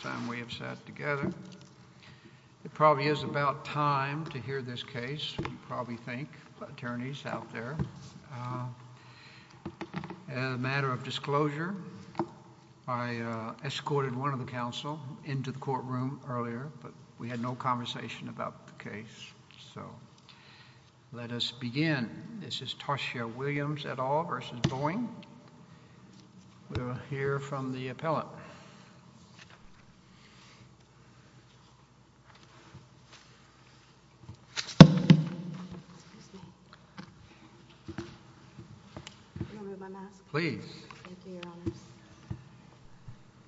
time we have sat together. It probably is about time to hear this case. You probably think attorneys out there, as a matter of disclosure, I escorted one of the council into the courtroom earlier, but we had no conversation about the case. So let us begin. This is Toshio Williams at all versus Boeing. We'll hear from the appellate.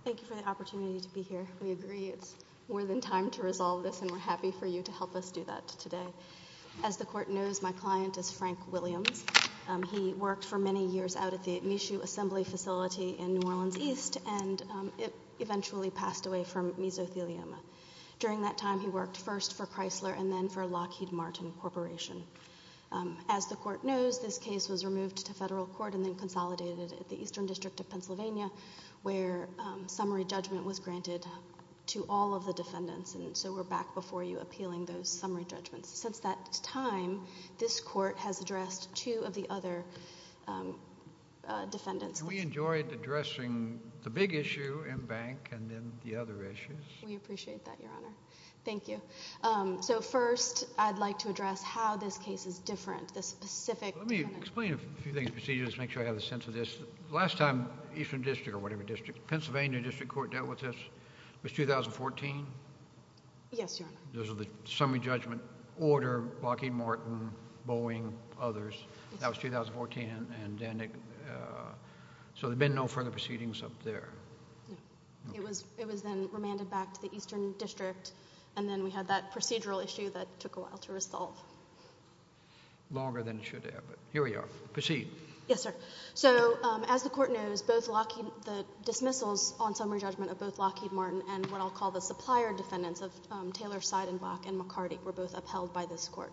Thank you for the opportunity to be here. We agree. It's more than time to resolve this, and we're happy for you to help us do that today. As the court knows, my client is Frank Williams. He worked for many years out of the issue assembly facility in New Orleans East, and it eventually passed away from mesothelioma. During that time, he worked first for Chrysler and then for Lockheed Martin Corporation. As the court knows, this case was removed to federal court and then consolidated at the Eastern District of Pennsylvania, where summary judgment was granted to all of the defendants. And so we're back before you appealing those summary judgments. Since that time, this court has addressed two of the other defendants. We enjoyed addressing the big issue in bank and then the other issues. We appreciate that, Your Honor. Thank you. So first, I'd like to address how this case is different. This specific... Let me explain a few things, procedures, to make sure I have a sense of this. Last time Eastern District or whatever district, Pennsylvania District Court dealt with this was 2014. Yes, Your Honor. Those others, that was 2014. And then, so there'd been no further proceedings up there. It was then remanded back to the Eastern District, and then we had that procedural issue that took a while to resolve. Longer than it should have, but here we are. Proceed. Yes, sir. So as the court knows, both Lockheed... The dismissals on summary judgment of both Lockheed Martin and what I'll call the supplier defendants of Taylor, Seidenbach, and McCarty were both upheld by this court,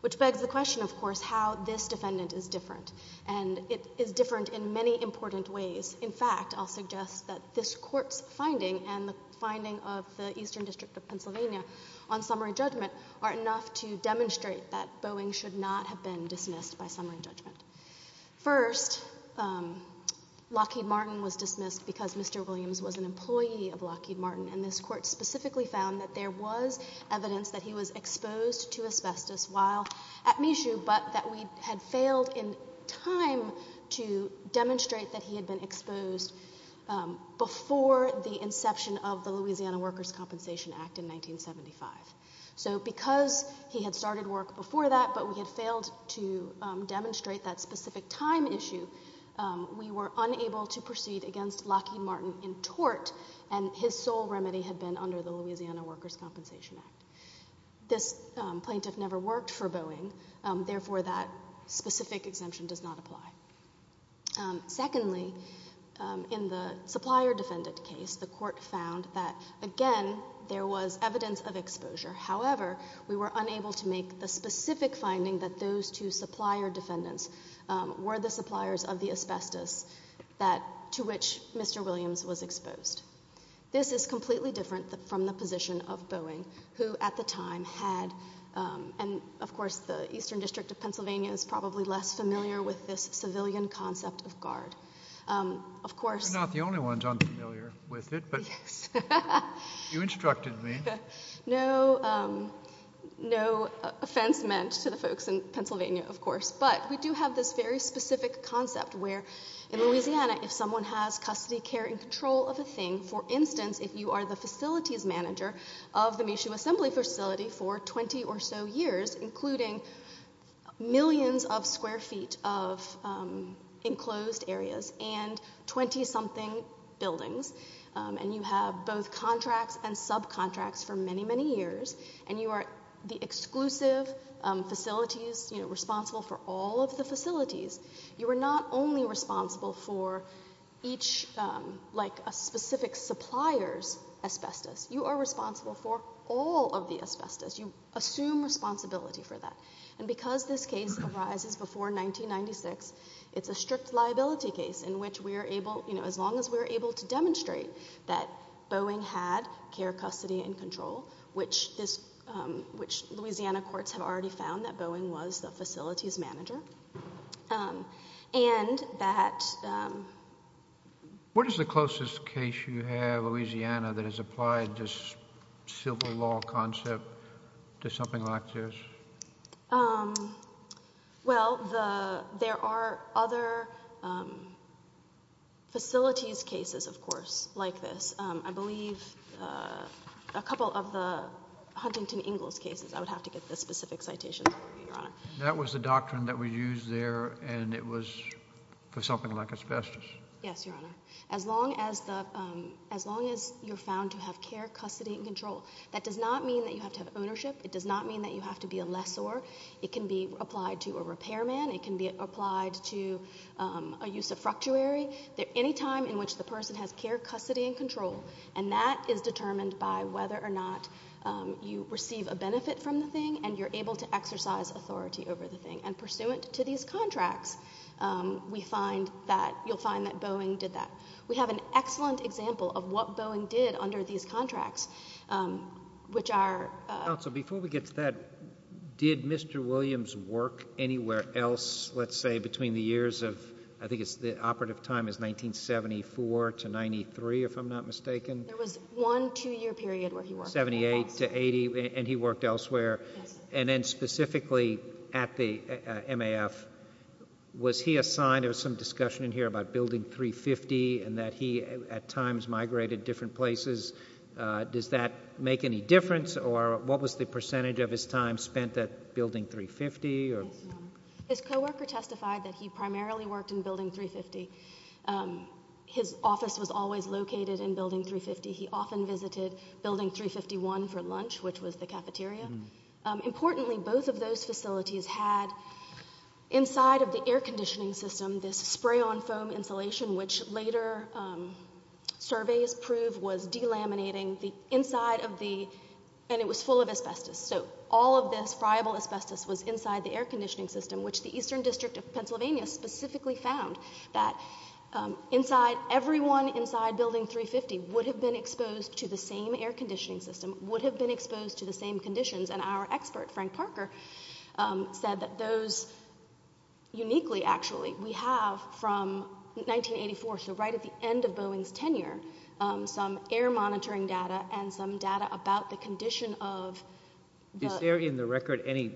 which begs the question, of course, how this defendant is different. And it is different in many important ways. In fact, I'll suggest that this court's finding and the finding of the Eastern District of Pennsylvania on summary judgment are enough to demonstrate that Boeing should not have been dismissed by summary judgment. First, Lockheed Martin was dismissed because Mr. Williams was an employee of Lockheed Martin, and this was a case where he was exposed to asbestos while at Michoud, but that we had failed in time to demonstrate that he had been exposed before the inception of the Louisiana Workers' Compensation Act in 1975. So because he had started work before that, but we had failed to demonstrate that specific time issue, we were unable to proceed against Lockheed Martin in tort, and his sole remedy had been under the Louisiana Workers' Compensation Act. This plaintiff never worked for Boeing, therefore that specific exemption does not apply. Secondly, in the supplier defendant case, the court found that, again, there was evidence of exposure. However, we were unable to make the specific finding that those two supplier defendants were the suppliers of the asbestos to which Mr. Williams was exposed. This is completely different from the position of Boeing, who at the time had, and of course the Eastern District of Pennsylvania is probably less familiar with this civilian concept of guard. You're not the only ones unfamiliar with it, but you instructed me. No offense meant to the folks in Pennsylvania, of course, but we do have this very specific concept where in Louisiana, if someone has custody, care, and control of a thing, for instance, if you are the facilities manager of the Michoud Assembly Facility for 20 or so years, including millions of square feet of enclosed areas and 20-something buildings, and you have both contracts and subcontracts for many, many years, and you are the exclusive facilities responsible for all of the facilities, you are not only responsible for each specific supplier's asbestos, you are responsible for all of the asbestos. You assume responsibility for that, and because this case arises before 1996, it's a strict liability case in which we are able, as long as we're able to demonstrate that Boeing had care, custody, and control, which Louisiana courts have already found that Boeing was the facilities manager, and that... What is the closest case you have, Louisiana, that has applied this civil law concept to something like this? Well, there are other facilities cases, of course, like this. I believe a couple of the Huntington Ingalls cases, I would have to get the specific citation, Your Honor. That was the doctrine that was used there, and it was for something like asbestos. Yes, Your Honor. As long as you're found to have care, custody, and control, that does not mean that you have to have ownership. It does not mean that you have to be a lessor. It can be applied to a repairman. It can be applied to a use of fructuary. Any time in which the person has care, custody, and control, and that is determined by whether or not you receive a benefit from the thing, and you're able to exercise authority over the thing. And pursuant to these contracts, we find that... You'll find that Boeing did that. We have an excellent example of what Boeing did under these contracts, which are... Counsel, before we get to that, did Mr. Williams work anywhere else, let's say, between the years of... I think the operative time is 1974 to 93, if I'm not mistaken. There was one two-year period where he worked. 78 to 80, and he worked elsewhere. And then specifically at the MAF, was he assigned... There was some discussion in here about building 350, and that he, at times, migrated different places. Does that make any difference, or what was the percentage of his time spent at building 350, or... His co-worker testified that he primarily worked in building 350. His office was always located in building 350. He often visited building 351 for lunch, which was the cafeteria. Importantly, both of those facilities had, inside of the air conditioning system, this spray-on foam insulation, which later surveys prove was delaminating the inside of the... And it was full of asbestos. So, all of this friable asbestos was inside the air conditioning system, which the Eastern District of Pennsylvania specifically found that inside... Everyone inside building 350 would have been exposed to the same air conditioning system, would have been exposed to the same conditions. And our expert, Frank Parker, said that those... Uniquely, actually, we have, from 1984, so right at the end of Boeing's tenure, some air monitoring data and some data about the condition of... Is there in the record any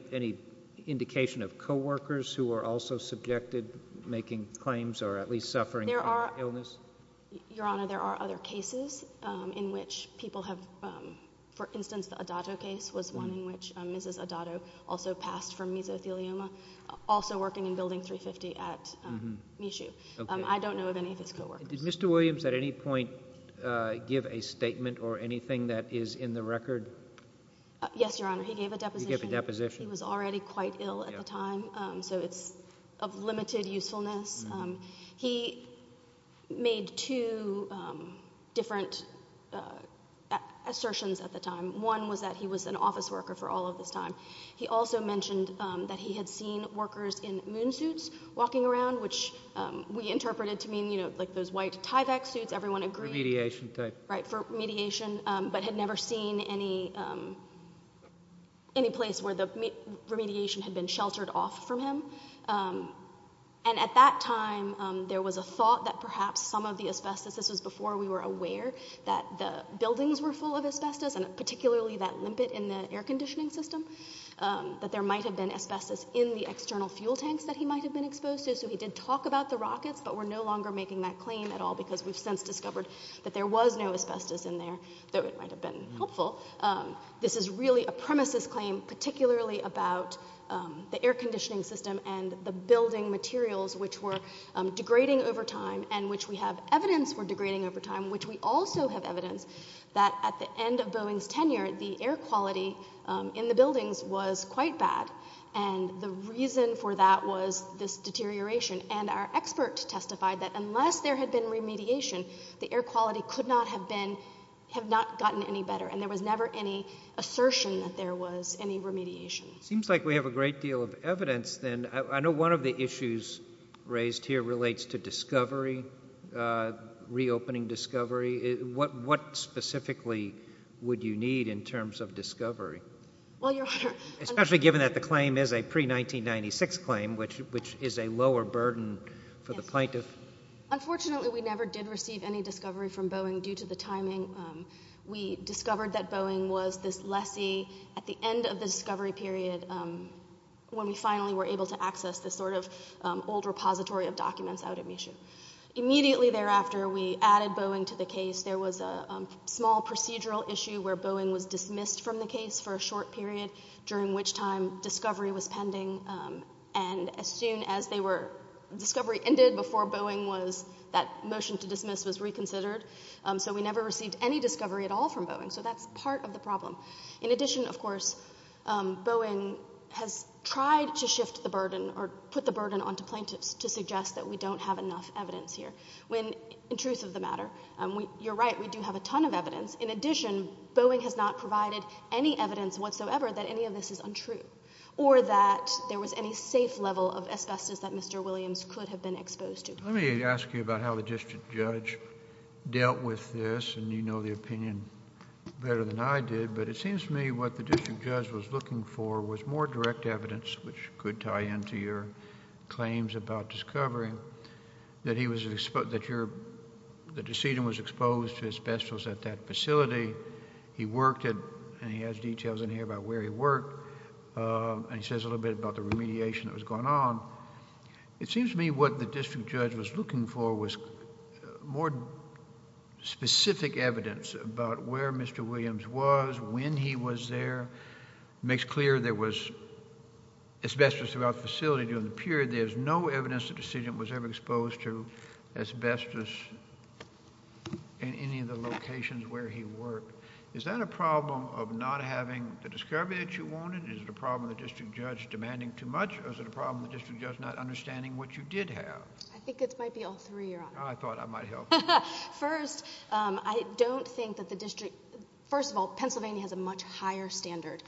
indication of co-workers who were also subjected, making claims, or at least suffering from the illness? Your Honor, there are other cases in which people have... For instance, the Adato case was one in which Mrs. Adato also passed from mesothelioma, also working in building 350 at Michoud. I don't know of any of his co-workers. Did Mr. Williams at any point give a statement or anything that is in the record? Yes, Your Honor. He gave a deposition. He was already quite ill at the time, so it's of limited usefulness. He made two different assertions at the time. One was that he was an office worker for all of this time. He also mentioned that he had seen workers in moon suits walking around, which we interpreted to mean like those white Tyvek suits. Everyone agreed. Remediation type. Right, for mediation, but had never seen any place where the remediation had been sheltered off from him. And at that time, there was a thought that perhaps some of the asbestos, this was before we were aware that the buildings were full of asbestos, and particularly that limpet in the air conditioning system, that there might have been asbestos in the external fuel tanks that he might have been exposed to. So he did talk about the rockets, but we're no longer making that claim at all because we've since discovered that there was no asbestos in there, though it might have been helpful. This is really a premises claim, particularly about the air conditioning system and the building materials, which were degrading over time, and which we have evidence were degrading over time, which we also have evidence that at the end of Boeing's tenure, the air quality in the buildings was quite bad. And the reason for that was this deterioration. And our expert testified that unless there had been remediation, the air quality could not have been, have not gotten any better. And there was never any assertion that there was any remediation. Seems like we have a great deal of evidence then. I know one of the issues raised here relates to discovery, reopening discovery. What specifically would you need in terms of discovery? Well, Your Honor. Especially given that the claim is a pre-1996 claim, which is a lower burden for the plaintiff. Unfortunately, we never did receive any discovery from Boeing due to the timing. We discovered that Boeing was this lessee at the end of the discovery period when we finally were able to access this sort of old repository of documents out of mission. Immediately thereafter, we added Boeing to the case. There was a small procedural issue where Boeing was dismissed from the case for a short period during which time discovery was pending. And as soon as they were, discovery ended before Boeing was, that motion to dismiss was reconsidered. So we never received any discovery at all from Boeing. So that's part of the problem. In addition, of course, Boeing has tried to shift the burden or put the burden onto plaintiffs to suggest that we don't have enough evidence here. When, in truth of the matter, you're right, we do have a ton of evidence. In addition, Boeing has not provided any evidence whatsoever that any of this is untrue, or that there was any safe level of asbestos that Mr. Williams could have been exposed to. Let me ask you about how the district judge dealt with this. And you know the opinion better than I did. But it seems to me what the district judge was looking for was more direct evidence, which could tie into your claims about discovery, that the decedent was exposed to asbestos at that facility. He worked it, and he has details in here about where he worked. And he says a little bit about the remediation that was going on. It seems to me what the district judge was looking for was more specific evidence about where Mr. Williams was, when he was there. Makes clear there was asbestos throughout the facility during the period. There's no evidence the decedent was ever exposed to asbestos in any of the locations where he worked. Is that a problem of not having the discovery that you wanted? Is it a problem of the district judge demanding too much? Or is it a problem of the district judge not understanding what you did have? I think it might be all three, Your Honor. I thought I might help. First, I don't think that the district... First of all, Pennsylvania has a much higher standard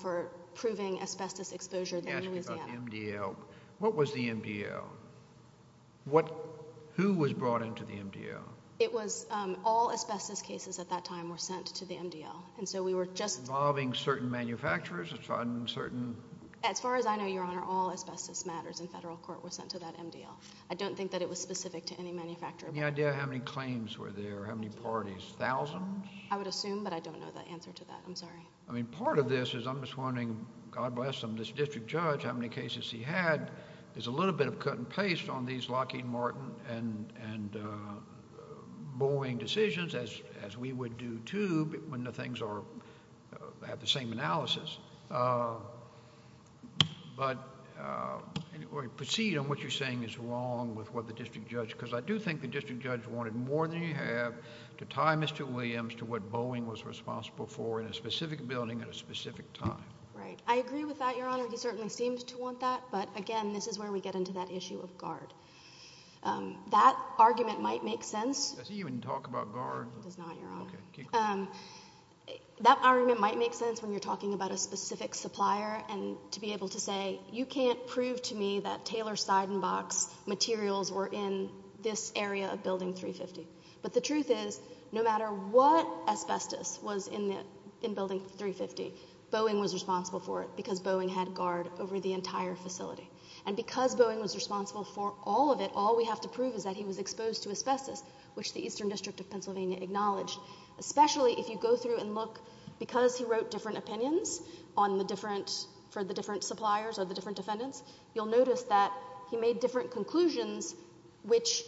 for proving asbestos exposure than Louisiana. Let me ask you about the MDL. What was the MDL? What... Who was brought into the MDL? It was all asbestos cases at that time were sent to the MDL. And so we were just... Involving certain manufacturers, a certain... As far as I know, Your Honor, all asbestos matters in federal court were sent to that MDL. I don't think that it was specific to any manufacturer. Any idea how many claims were there, how many parties? Thousands? I would assume, but I don't know the answer to that. I'm sorry. I mean, part of this is I'm just wondering, God bless him, this district judge, how many cases he had. There's a little bit of cut and paste on these Lockheed Martin and Boeing decisions, as we would do, too, when the things are... have the same analysis. But, anyway, proceed on what you're saying is wrong with what the district judge... Because I do think the district judge wanted more than he had to tie Mr. Williams to what Boeing was responsible for in a specific building at a specific time. Right. I agree with that, Your Honor. He certainly seemed to want that. But, again, this is where we get into that issue of guard. That argument might make sense. Does he even talk about guard? He does not, Your Honor. That argument might make sense when you're talking about a specific supplier and to be able to say, you can't prove to me that Taylor's side and box materials were in this area of Building 350. But the truth is, no matter what asbestos was in Building 350, Boeing was responsible for it because Boeing had guard over the entire facility. And because Boeing was responsible for all of it, all we have to prove is that he was exposed to asbestos, which the Eastern District of Pennsylvania acknowledged. Especially if you go through and look, because he wrote different opinions on the different... for the different suppliers or the different defendants, you'll notice that he made different conclusions which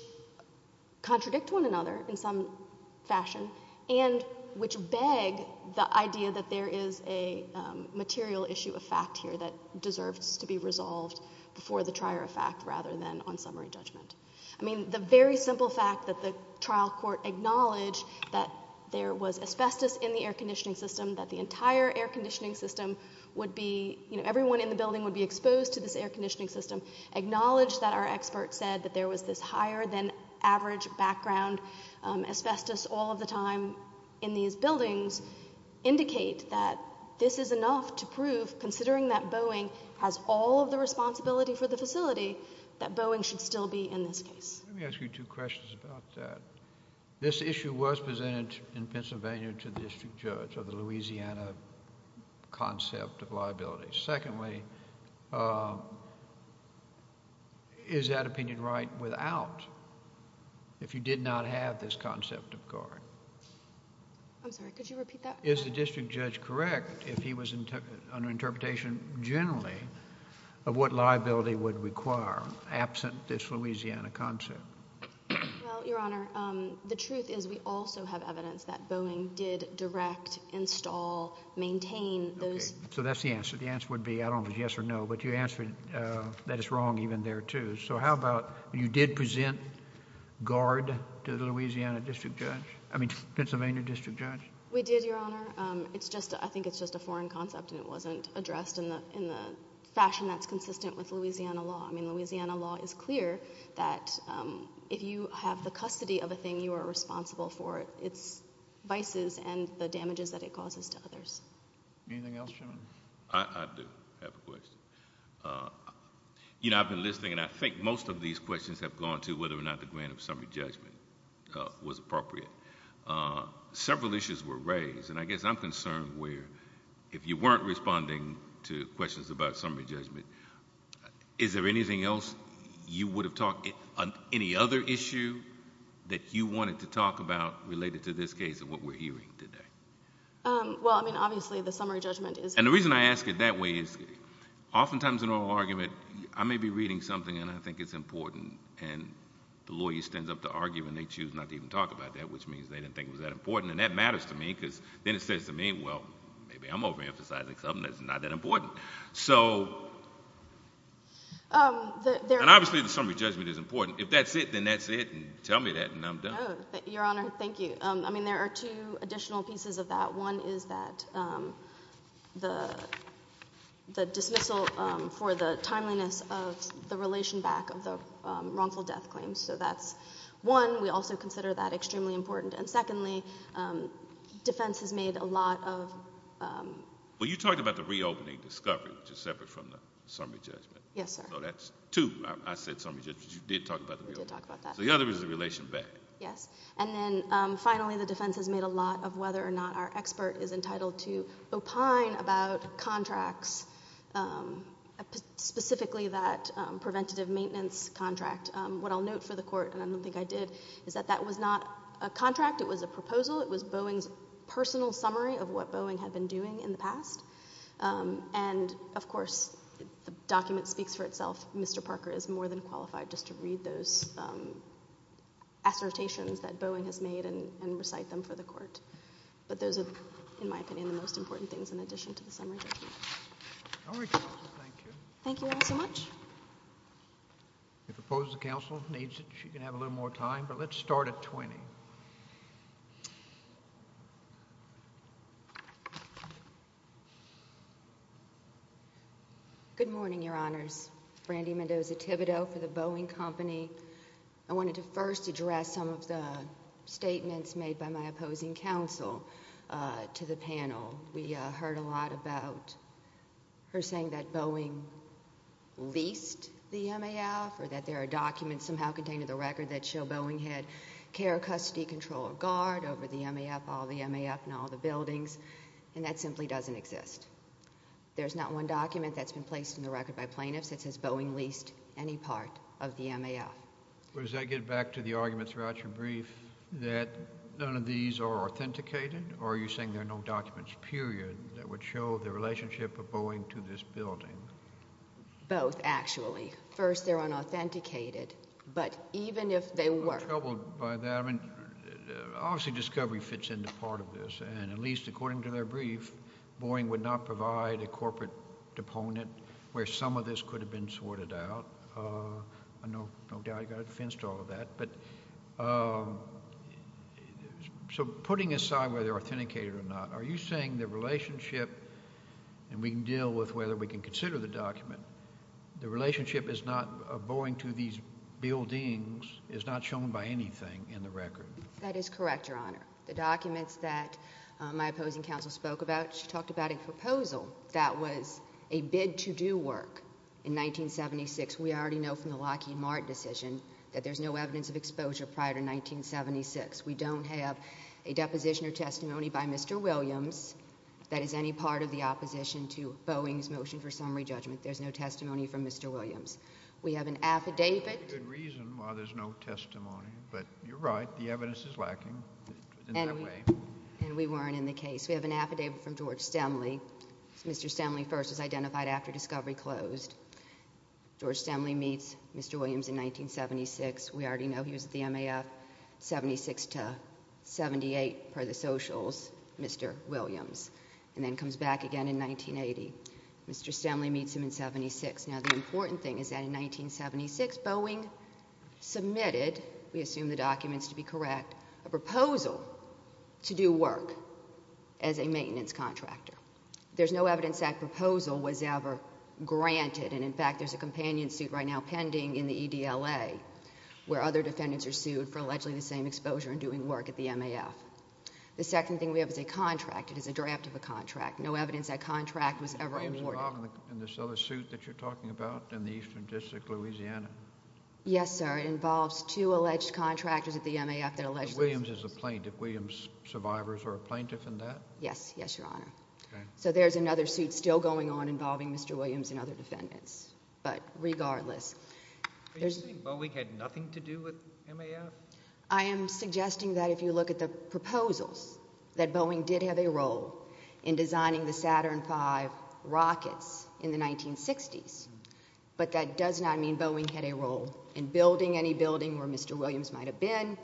contradict one another in some fashion and which beg the idea that there is a material issue of fact here that deserves to be resolved before the trier of fact rather than on summary judgment. I mean, the very simple fact that the trial court acknowledged that there was asbestos in the air conditioning system, that the entire air conditioning system would be... you know, everyone in the building would be exposed to this air conditioning system, acknowledged that our expert said that there was this higher than average background asbestos all of the time in these buildings, indicate that this is enough to prove, considering that Boeing has all of the responsibility for the facility, that Boeing should still be in this case. Let me ask you two questions about that. This issue was presented in Pennsylvania to the district judge of the Louisiana concept of liability. Secondly, is that opinion right without, if you did not have this concept of guard? I'm sorry, could you repeat that? Is the district judge correct if he was under interpretation generally of what liability would require absent this Louisiana concept? Well, Your Honor, the truth is we also have evidence that Boeing did direct, install, maintain those... So that's the answer. The answer would be, I don't know if it's yes or no, but you answered that it's wrong even there too. So how about you did present guard to the Louisiana district judge, I mean Pennsylvania district judge? We did, Your Honor. It's just, I think it's just a foreign concept and it wasn't addressed in the fashion that's consistent with Louisiana law. I mean Louisiana law is clear that if you have the custody of a thing, you are responsible for its vices and the damages that it causes to others. Anything else, Chairman? I do have a question. You know, I've been listening and I think most of these questions have gone to whether or not the grant of summary judgment was appropriate. Several issues were raised and I guess I'm concerned where if you weren't responding to questions about summary judgment, is there anything else you would have talked, any other issue that you wanted to talk about related to this case and what we're hearing today? Well, I mean obviously the summary judgment is. And the reason I ask it that way is oftentimes in oral argument I may be reading something and I think it's important and the lawyer stands up to argue and they choose not to even talk about that which means they didn't think it was that important and that matters to me because then it says to me, well maybe I'm over emphasizing something that's not that important. So, and obviously the summary judgment is important. If that's it, then that's it and tell me that and I'm done. Your Honor, thank you. I mean there are two additional pieces of that. One is that the dismissal for the timeliness of the relation back of the wrongful death claims. So that's one. We also consider that extremely important. And secondly, defense has made a lot of. Well, you talked about the reopening discovery which is separate from the summary judgment. Yes, sir. So that's two. I said summary judgment. You did talk about the reopening. We did talk about that. So the other is the relation back. Yes, and then finally the defense has made a lot of whether or not our expert is entitled to opine about contracts, specifically that preventative maintenance contract. What I'll note for the court and I don't think I did is that that was not a contract. It was a proposal. It was Boeing's personal summary of what Boeing had been doing in the past. And of course, the document speaks for itself. Mr. Parker is more than qualified just to read those assertions that Boeing has made and recite them for the court. But those are, in my opinion, the most important things in addition to the summary judgment. All right, counsel, thank you. Thank you all so much. If opposed to counsel needs it, she can have a little more time, but let's start at 20. Good morning, your honors. Brandy Mendoza Thibodeau for the Boeing Company. I wanted to first address some of the statements made by my opposing counsel to the panel. We heard a lot about her saying that Boeing leased the MAF or that there are documents somehow contained in the record that show Boeing had care custody control of guard over the MAF, all the MAF and all the buildings. And that simply doesn't exist. There's not one document that's been placed in the record by plaintiffs that says Boeing leased any part of the MAF. Well, does that get back to the argument throughout your brief that none of these are authenticated? Or are you saying there are no documents, period, that would show the relationship of Boeing to this building? Both, actually. First, they're unauthenticated, but even if they were- I'm troubled by that. I mean, obviously, discovery fits into part of this. And at least according to their brief, Boeing would not provide a corporate deponent where some of this could have been sorted out. I know, no doubt, I've got a defense to all of that. So putting aside whether they're authenticated or not, are you saying the relationship, and we can deal with whether we can consider the document, the relationship of Boeing to these buildings is not shown by anything in the record? That is correct, Your Honor. The documents that my opposing counsel spoke about, she talked about a proposal that was a bid to do work in 1976. We already know from the Lockheed Martin decision that there's no evidence of exposure prior to 1976. We don't have a deposition or testimony by Mr. Williams that is any part of the opposition to Boeing's motion for summary judgment. There's no testimony from Mr. Williams. We have an affidavit- There's a good reason why there's no testimony. But you're right, the evidence is lacking in that way. And we weren't in the case. We have an affidavit from George Stemley. Mr. Stemley first was identified after discovery closed. George Stemley meets Mr. Williams in 1976. We already know he was at the MAF, 76 to 78 per the socials, Mr. Williams, and then comes back again in 1980. Mr. Stemley meets him in 76. Now, the important thing is that in 1976, Boeing submitted, we assume the documents to be correct, a proposal to do work as a maintenance contractor. There's no evidence that proposal was ever granted. And in fact, there's a companion suit right now pending in the EDLA where other defendants are sued for allegedly the same exposure and doing work at the MAF. The second thing we have is a contract. It is a draft of a contract. No evidence that contract was ever awarded. In this other suit that you're talking about in the Eastern District, Louisiana. Yes, sir. It involves two alleged contractors at the MAF that allegedly- Williams is a plaintiff. Williams survivors are a plaintiff in that? Yes, yes, your honor. So there's another suit still going on involving Mr. Williams and other defendants, but regardless. Are you saying Boeing had nothing to do with MAF? I am suggesting that if you look at the proposals that Boeing did have a role in designing the Saturn V rockets in the 1960s, but that does not mean Boeing had a role in building any building where Mr. Williams might have been,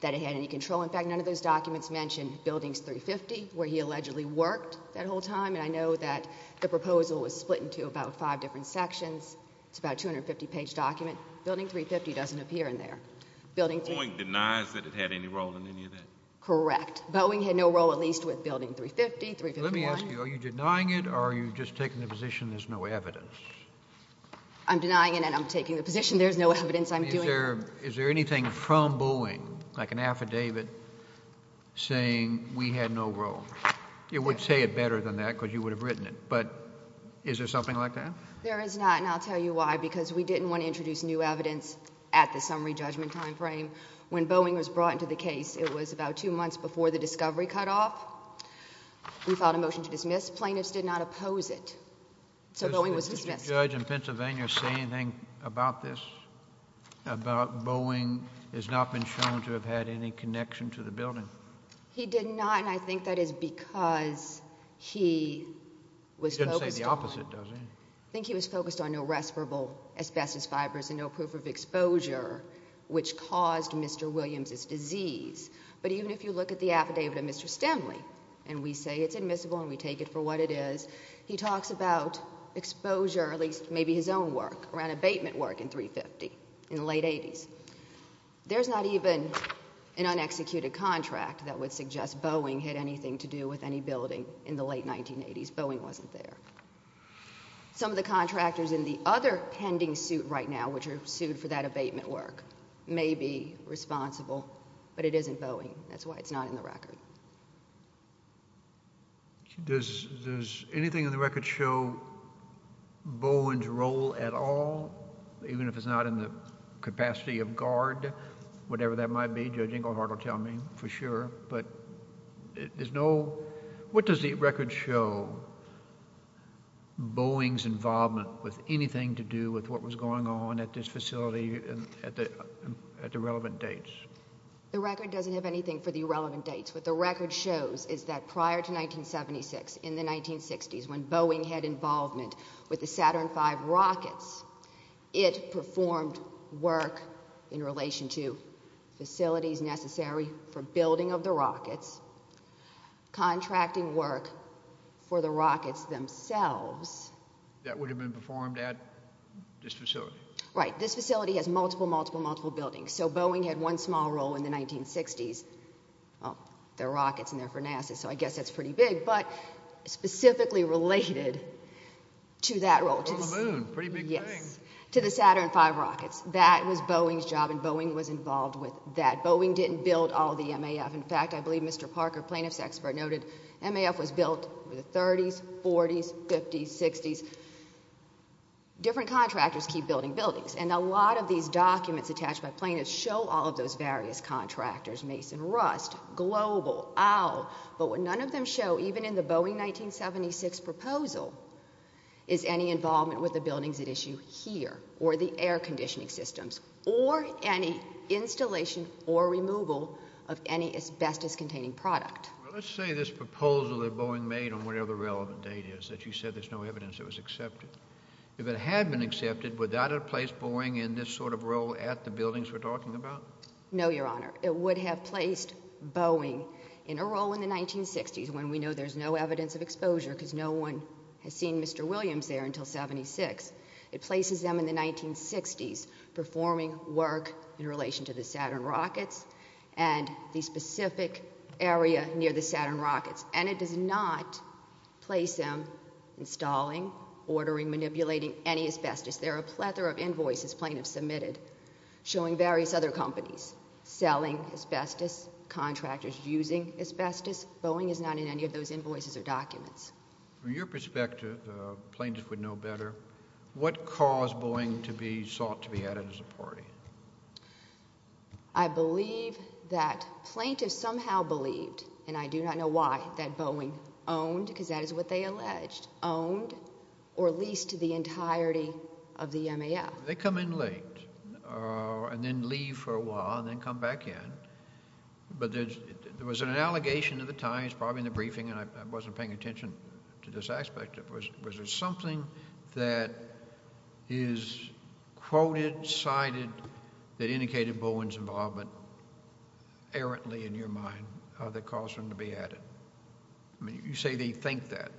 that it had any control. In fact, none of those documents mentioned buildings 350 where he allegedly worked that whole time. And I know that the proposal was split into about five different sections. It's about 250 page document. Building 350 doesn't appear in there. Building 350- Boeing denies that it had any role in any of that? Correct. Boeing had no role at least with building 350, 351. Let me ask you, are you denying it or are you just taking the position there's no evidence? I'm denying it and I'm taking the position there's no evidence I'm doing- Is there anything from Boeing, like an affidavit saying we had no role? You would say it better than that because you would have written it, but is there something like that? There is not and I'll tell you why, because we didn't want to introduce new evidence at the summary judgment timeframe. When Boeing was brought into the case, it was about two months before the discovery cutoff. We filed a motion to dismiss. Plaintiffs did not oppose it. So Boeing was dismissed. Did the judge in Pennsylvania say anything about this, about Boeing has not been shown to have had any connection to the building? He did not and I think that is because he was focused on- He didn't say the opposite, does he? I think he was focused on no respirable asbestos fibers and no proof of exposure, which caused Mr. Williams's disease. But even if you look at the affidavit of Mr. Stimley and we say it's admissible and we take it for what it is, he talks about exposure, at least maybe his own work, around abatement work in 350 in the late 80s. There's not even an unexecuted contract that would suggest Boeing had anything to do with any building in the late 1980s. Boeing wasn't there. Some of the contractors in the other pending suit right now, which are sued for that abatement work, may be responsible, but it isn't Boeing. That's why it's not in the record. Does anything in the record show Boeing's role at all, even if it's not in the capacity of guard, whatever that might be, Judge Ingleheart will tell me for sure, but there's no- What does the record show Boeing's involvement with anything to do with what was going on at this facility at the relevant dates? The record doesn't have anything for the relevant dates. What the record shows is that prior to 1976, in the 1960s, when Boeing had involvement with the Saturn V rockets, it performed work in relation to facilities necessary for building of the rockets, contracting work for the rockets themselves. That would have been performed at this facility? Right, this facility has multiple, multiple, multiple buildings, so Boeing had one small role in the 1960s. There are rockets in there for NASA, so I guess that's pretty big, but specifically related to that role. On the moon, pretty big thing. To the Saturn V rockets. That was Boeing's job, and Boeing was involved with that. In fact, I believe Mr. Parker, plaintiff's expert, noted MAF was built in the 30s, 40s, 50s, 60s. Different contractors keep building buildings, and a lot of these documents attached by plaintiffs show all of those various contractors, Mason, Rust, Global, Owl, but none of them show, even in the Boeing 1976 proposal, is any involvement with the buildings at issue here, or the air conditioning systems, or any installation or removal of any asbestos-containing product. Well, let's say this proposal that Boeing made on whatever relevant date is, that you said there's no evidence it was accepted. If it had been accepted, would that have placed Boeing in this sort of role at the buildings we're talking about? No, Your Honor. It would have placed Boeing in a role in the 1960s, when we know there's no evidence of exposure, because no one has seen Mr. Williams there until 76. It places them in the 1960s, performing work in relation to the Saturn rockets, and the specific area near the Saturn rockets, and it does not place them installing, ordering, manipulating any asbestos. There are a plethora of invoices plaintiffs submitted, showing various other companies selling asbestos, contractors using asbestos. Boeing is not in any of those invoices or documents. From your perspective, plaintiffs would know better, what caused Boeing to be sought to be added as a party? I believe that plaintiffs somehow believed, and I do not know why, that Boeing owned, because that is what they alleged, owned or leased to the entirety of the MAF. They come in late, and then leave for a while, and then come back in, but there was an allegation at the time, it's probably in the briefing, and I wasn't paying attention to this aspect of it, was there something that is quoted, cited, that indicated Boeing's involvement, errantly in your mind, that caused them to be added? I mean, you say they think that,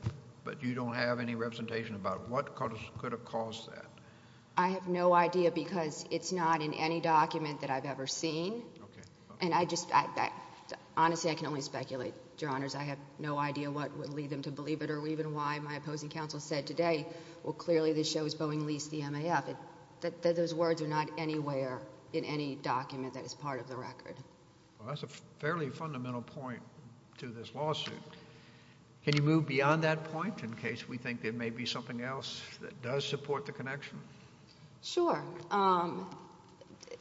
but you don't have any representation about what could have caused that. I have no idea, because it's not in any document that I've ever seen, and I just, honestly, I can only speculate, Your Honors. I have no idea what would lead them to believe it, or even why my opposing counsel said today, well, clearly this shows Boeing leased the MAF. Those words are not anywhere in any document that is part of the record. Well, that's a fairly fundamental point to this lawsuit. Can you move beyond that point, in case we think there may be something else that does support the connection? Sure.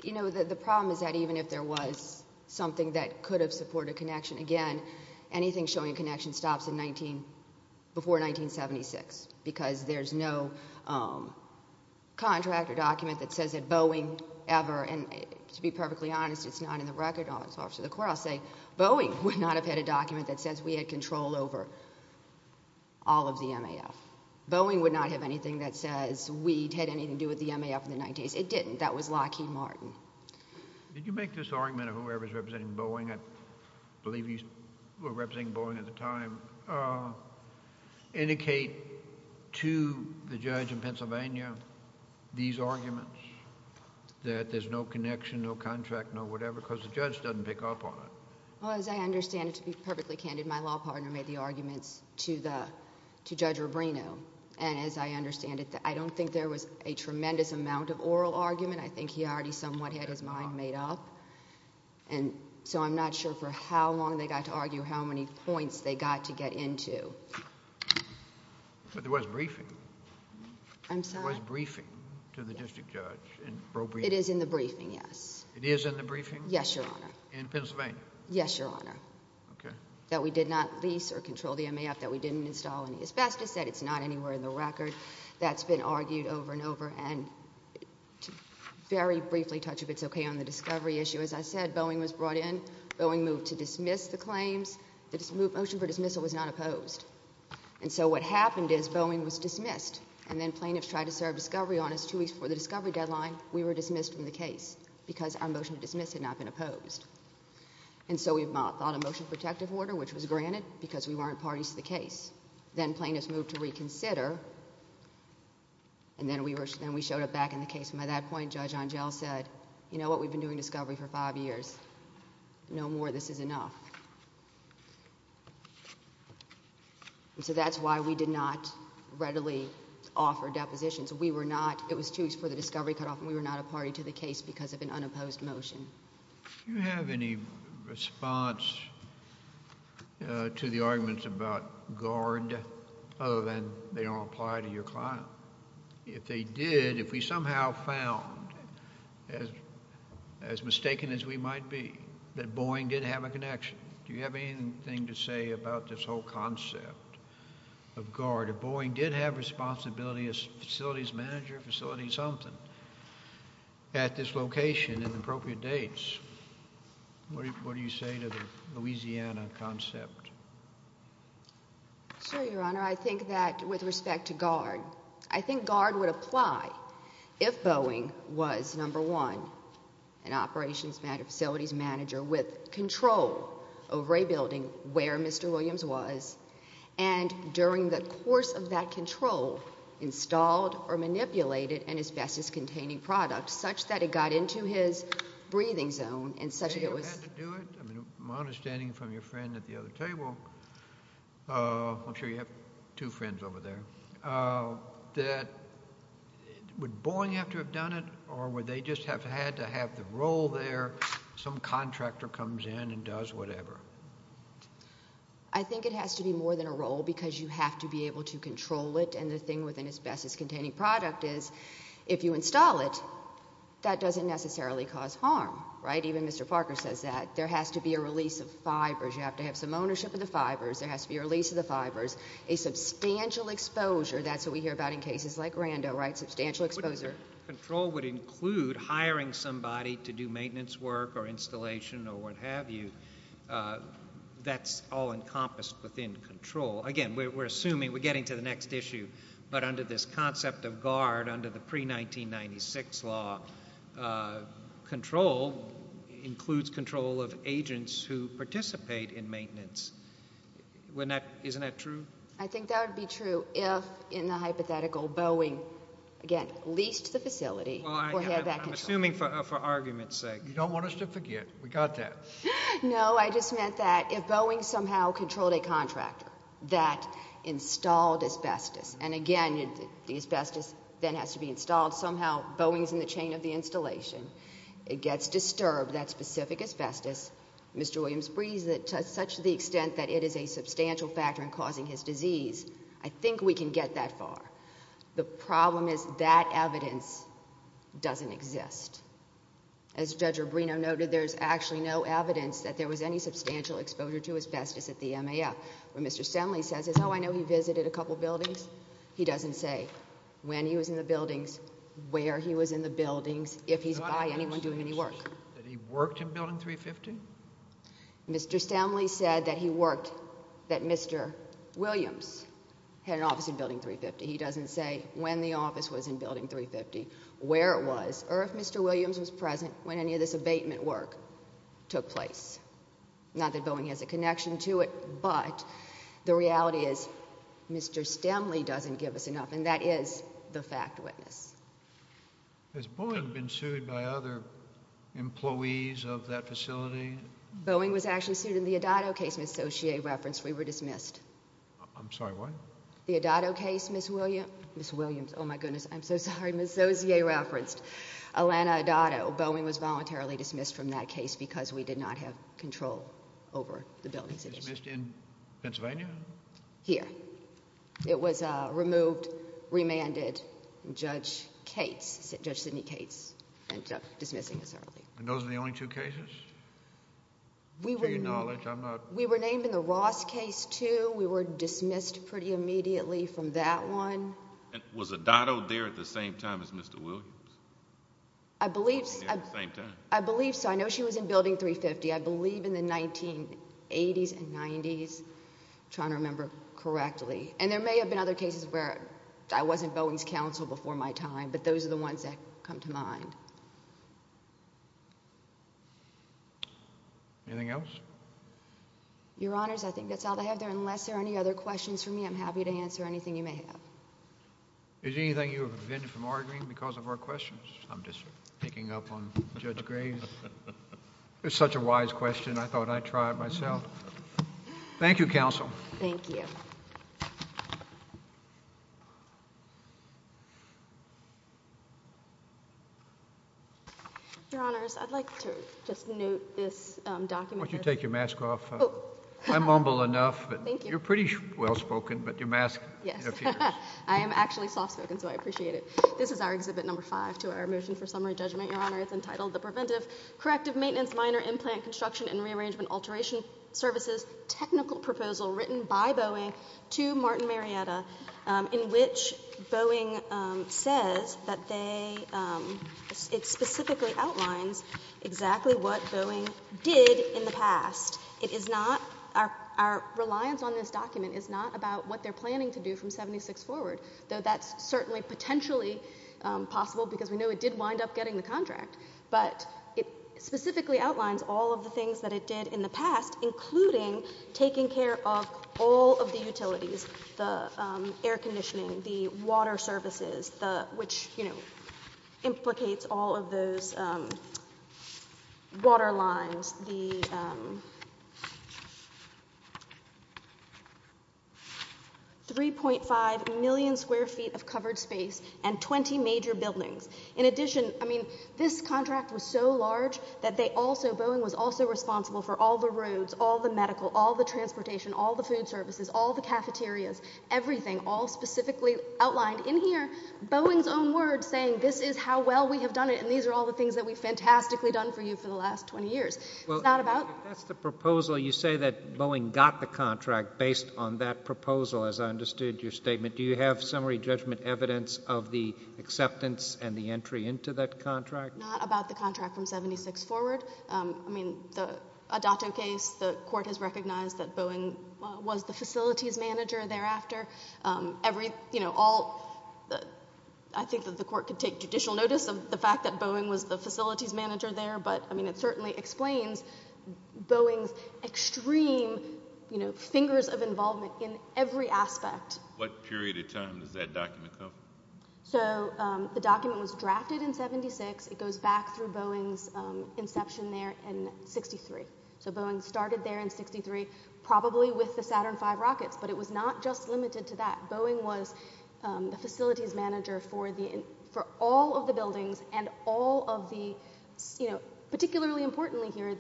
You know, the problem is that even if there was something that could have supported a connection, again, anything showing connection stops before 1976, because there's no contract or document that says that Boeing ever, and to be perfectly honest, it's not in the record, Office of the Court, I'll say Boeing would not have had a document that says we had control over all of the MAF. Boeing would not have anything that says we'd had anything to do with the MAF in the 90s. It didn't, that was Lockheed Martin. Did you make this argument of whoever's representing Boeing, I believe you were representing Boeing at the time, indicate to the judge in Pennsylvania these arguments that there's no connection, no contract, no whatever, because the judge doesn't pick up on it. Well, as I understand it, to be perfectly candid, my law partner made the arguments to Judge Rubino, and as I understand it, I don't think there was a tremendous amount of oral argument. I think he already somewhat had his mind made up, and so I'm not sure for how long they got to argue how many points they got to get into. But there was a briefing. I'm sorry? There was a briefing to the district judge. It is in the briefing, yes. It is in the briefing? Yes, Your Honor. In Pennsylvania? Yes, Your Honor. Okay. That we did not lease or control the MAF, that we didn't install any asbestos, that it's not anywhere in the record. That's been argued over and over, and to very briefly touch if it's okay on the discovery issue, as I said, Boeing was brought in. Boeing moved to dismiss the claims. The motion for dismissal was not opposed, and so what happened is Boeing was dismissed, and then plaintiffs tried to serve discovery on us two weeks before the discovery deadline. We were dismissed from the case because our motion to dismiss had not been opposed, and so we filed a motion protective order, which was granted because we weren't parties to the case. Then plaintiffs moved to reconsider, and then we showed up back in the case, and by that point, Judge Angel said, you know what, we've been doing discovery for five years. No more. This is enough. And so that's why we did not readily offer depositions. We were not, it was two weeks before the discovery cutoff, and we were not a party to the case because of an unopposed motion. Do you have any response to the arguments about guard other than they don't apply to your client? If they did, if we somehow found, as mistaken as we might be, that Boeing did have a connection. Do you have anything to say about this whole concept of guard, if Boeing did have responsibility as facilities manager, facilities something, at this location in appropriate dates, what do you say to the Louisiana concept? Sure, Your Honor. I think that with respect to guard, I think guard would apply if Boeing was, number one, an operations manager, facilities manager with control over a building where Mr. Williams was, and during the course of that control, installed or manipulated an asbestos-containing product such that it got into his breathing zone, and such that it was- They don't have to do it. I mean, my understanding from your friend at the other table, I'm sure you have two friends over there, that would Boeing have to have done it, or would they just have had to have the role there, some contractor comes in and does whatever? I think it has to be more than a role because you have to be able to control it, and the thing with an asbestos-containing product is, if you install it, that doesn't necessarily cause harm, right, even Mr. Parker says that. There has to be a release of fibers. There has to be a release of the fibers. A substantial exposure, that's what we hear about in cases like Rando, right, substantial exposure. Control would include hiring somebody to do maintenance work or installation or what have you. That's all encompassed within control. Again, we're assuming, we're getting to the next issue, but under this concept of guard, under the pre-1996 law, control includes control of agents who participate in maintenance. Isn't that true? I think that would be true if, in the hypothetical, Boeing, again, leased the facility for head back control. I'm assuming for argument's sake. You don't want us to forget, we got that. No, I just meant that if Boeing somehow controlled a contractor that installed asbestos, and again, the asbestos then has to be installed. Somehow, Boeing's in the chain of the installation. It gets disturbed, that specific asbestos. Mr. Williams brings it to such the extent that it is a substantial factor in causing his disease. I think we can get that far. The problem is that evidence doesn't exist. As Judge Rubino noted, there's actually no evidence that there was any substantial exposure to asbestos at the MAF. What Mr. Stanley says is, oh, I know he visited a couple buildings. He doesn't say when he was in the buildings, where he was in the buildings, if he's by anyone doing any work. That he worked in Building 350? Mr. Stanley said that he worked, that Mr. Williams had an office in Building 350. He doesn't say when the office was in Building 350, where it was, or if Mr. Williams was present when any of this abatement work took place. Not that Boeing has a connection to it, but the reality is, Mr. Stanley doesn't give us enough, and that is the fact witness. Has Boeing been sued by other employees of that facility? Boeing was actually sued in the Adado case, Ms. Saussure referenced, we were dismissed. I'm sorry, what? The Adado case, Ms. Williams, oh my goodness, I'm so sorry, Ms. Saussure referenced, Atlanta Adado, Boeing was voluntarily dismissed from that case because we did not have control over the buildings. Dismissed in Pennsylvania? Here. It was removed, remanded, and Judge Cates, Judge Sidney Cates, ended up dismissing us early. And those are the only two cases? To your knowledge, I'm not. We were named in the Ross case, too, we were dismissed pretty immediately from that one. Was Adado there at the same time as Mr. Williams? I believe so. At the same time. I believe so, I know she was in Building 350, I believe in the 1980s and 90s, trying to remember correctly. And there may have been other cases where I wasn't Boeing's counsel before my time, but those are the ones that come to mind. Anything else? Your Honors, I think that's all I have there. Unless there are any other questions for me, I'm happy to answer anything you may have. Is there anything you have prevented from arguing because of our questions? I'm just picking up on Judge Graves. It's such a wise question, I thought I'd try it myself. Thank you, Counsel. Thank you. Your Honors, I'd like to just note this document. Why don't you take your mask off? I mumble enough, but you're pretty well-spoken, but your mask, your fingers. I am actually soft-spoken, so I appreciate it. This is our Exhibit Number Five to our Motion for Summary Judgment, Your Honor. It's entitled, The Preventive Corrective Maintenance Minor Implant Construction and Rearrangement Alteration Services Technical Proposal written by Boeing to Martin Marietta, in which Boeing says that they, it specifically outlines exactly what Boeing did in the past. It is not, our reliance on this document is not about what they're planning to do from 76 forward, though that's certainly potentially possible because we know it did wind up getting the contract, but it specifically outlines all of the things that it did in the past, including taking care of all of the utilities, the air conditioning, the water services, which implicates all of those water lines, the 3.5 million square feet of covered space and 20 major buildings. In addition, I mean, this contract was so large that they also, Boeing was also responsible for all the roads, all the medical, all the transportation, all the food services, all the cafeterias, everything, all specifically outlined in here, Boeing's own words saying this is how well we have done it and these are all the things that we've fantastically done for you for the last 20 years. It's not about- If that's the proposal, you say that Boeing got the contract based on that proposal, as I understood your statement. Do you have summary judgment evidence of the acceptance and the entry into that contract? Not about the contract from 76 forward. I mean, the Adato case, the court has recognized that Boeing was the facilities manager thereafter. I think that the court could take judicial notice of the fact that Boeing was the facilities manager there, but I mean, it certainly explains Boeing's extreme fingers of involvement in every aspect. What period of time does that document come? So the document was drafted in 76. It goes back through Boeing's inception there in 63. So Boeing started there in 63, probably with the Saturn V rockets, but it was not just limited to that. Boeing was the facilities manager for all of the buildings and all of the, particularly importantly here,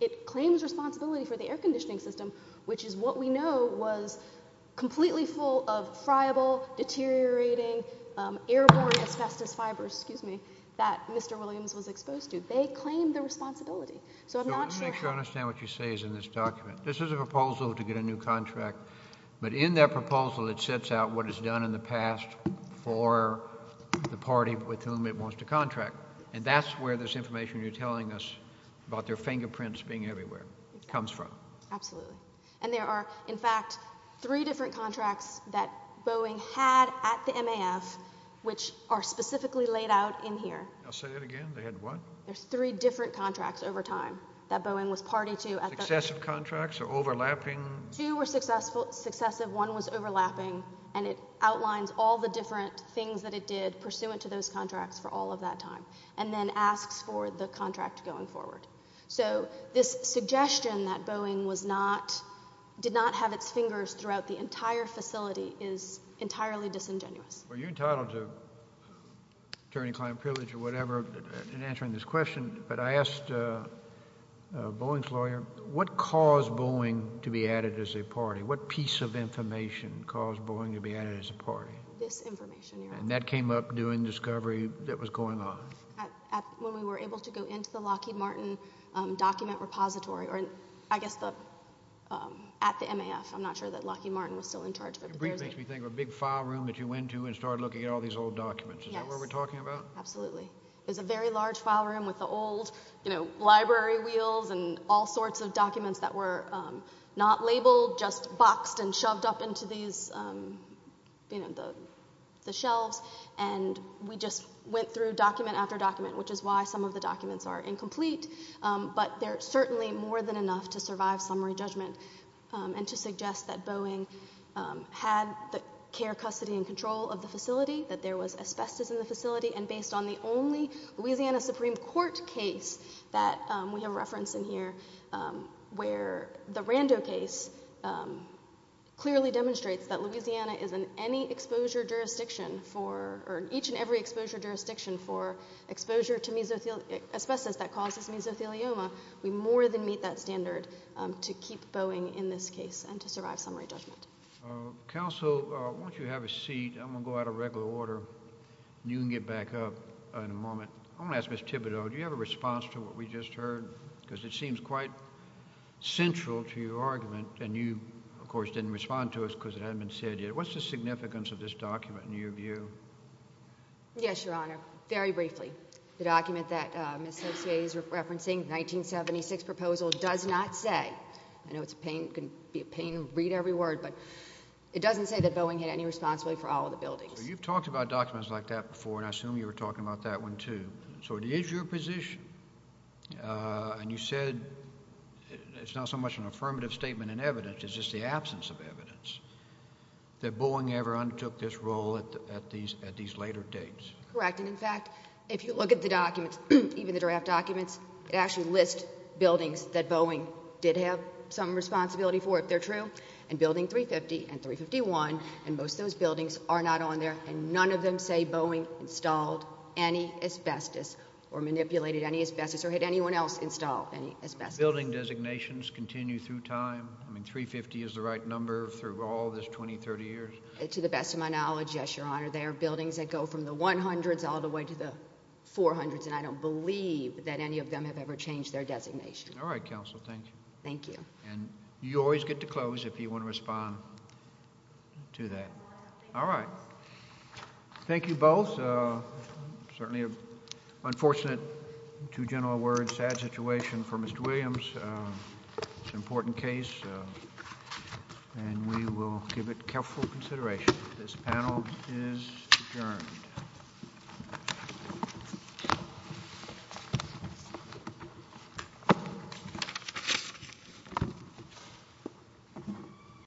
it claims responsibility for the air conditioning system, which is what we know was completely full of friable, deteriorating, airborne asbestos fibers, excuse me, that Mr. Williams was exposed to. They claimed the responsibility. So I'm not sure how- So let me make sure I understand what you say is in this document. This is a proposal to get a new contract, but in that proposal, it sets out what it's done in the past for the party with whom it wants to contract. And that's where this information you're telling us about their fingerprints being everywhere comes from. Absolutely. And there are, in fact, three different contracts that Boeing had at the MAF, which are specifically laid out in here. I'll say that again. They had what? There's three different contracts over time that Boeing was party to at the- Successive contracts or overlapping? Two were successive, one was overlapping, and it outlines all the different things that it did pursuant to those contracts for all of that time, and then asks for the contract going forward. So this suggestion that Boeing was not, did not have its fingers throughout the entire facility is entirely disingenuous. Were you entitled to attorney-client privilege or whatever in answering this question? But I asked Boeing's lawyer, what caused Boeing to be added as a party? What piece of information caused Boeing to be added as a party? This information, Your Honor. And that came up during discovery that was going on? When we were able to go into the Lockheed Martin document repository, or I guess at the MAF. I'm not sure that Lockheed Martin was still in charge of it. It makes me think of a big file room that you went to and started looking at all these old documents. Is that what we're talking about? Absolutely. It was a very large file room with the old library wheels and all sorts of documents that were not labeled, just boxed and shoved up into these, you know, the shelves. And we just went through document after document, which is why some of the documents are incomplete. But they're certainly more than enough to survive summary judgment and to suggest that Boeing had the care, custody, and control of the facility, that there was asbestos in the facility. And based on the only Louisiana Supreme Court case that we have referenced in here, where the Rando case clearly demonstrates that Louisiana is in any exposure jurisdiction for, or each and every exposure jurisdiction for exposure to asbestos that causes mesothelioma, we more than meet that standard to keep Boeing in this case and to survive summary judgment. Counsel, why don't you have a seat? I'm gonna go out of regular order. You can get back up in a moment. I'm gonna ask Ms. Thibodeau, do you have a response to what we just heard? Because it seems quite central to your argument. And you, of course, didn't respond to us because it hadn't been said yet. What's the significance of this document in your view? Yes, Your Honor. Very briefly. The document that Ms. Ocier is referencing, 1976 proposal, does not say, I know it's a pain, it can be a pain to read every word, but it doesn't say that Boeing had any responsibility for all of the buildings. You've talked about documents like that before, and I assume you were talking about that one too. So it is your position, and you said it's not so much an affirmative statement in evidence, it's just the absence of evidence that Boeing ever undertook this role at these later dates. Correct, and in fact, if you look at the documents, even the draft documents, it actually lists buildings that Boeing did have some responsibility for, if they're true, and building 350 and 351, and most of those buildings are not on there, and none of them say Boeing installed any asbestos or manipulated any asbestos or had anyone else install any asbestos. Building designations continue through time. I mean, 350 is the right number through all this 20, 30 years. To the best of my knowledge, yes, Your Honor. There are buildings that go from the 100s all the way to the 400s, and I don't believe that any of them have ever changed their designation. All right, counsel, thank you. Thank you. And you always get to close if you want to respond to that. All right. Thank you both. Certainly an unfortunate, in two general words, sad situation for Mr. Williams. It's an important case, and we will give it careful consideration. This panel is adjourned. Thank you.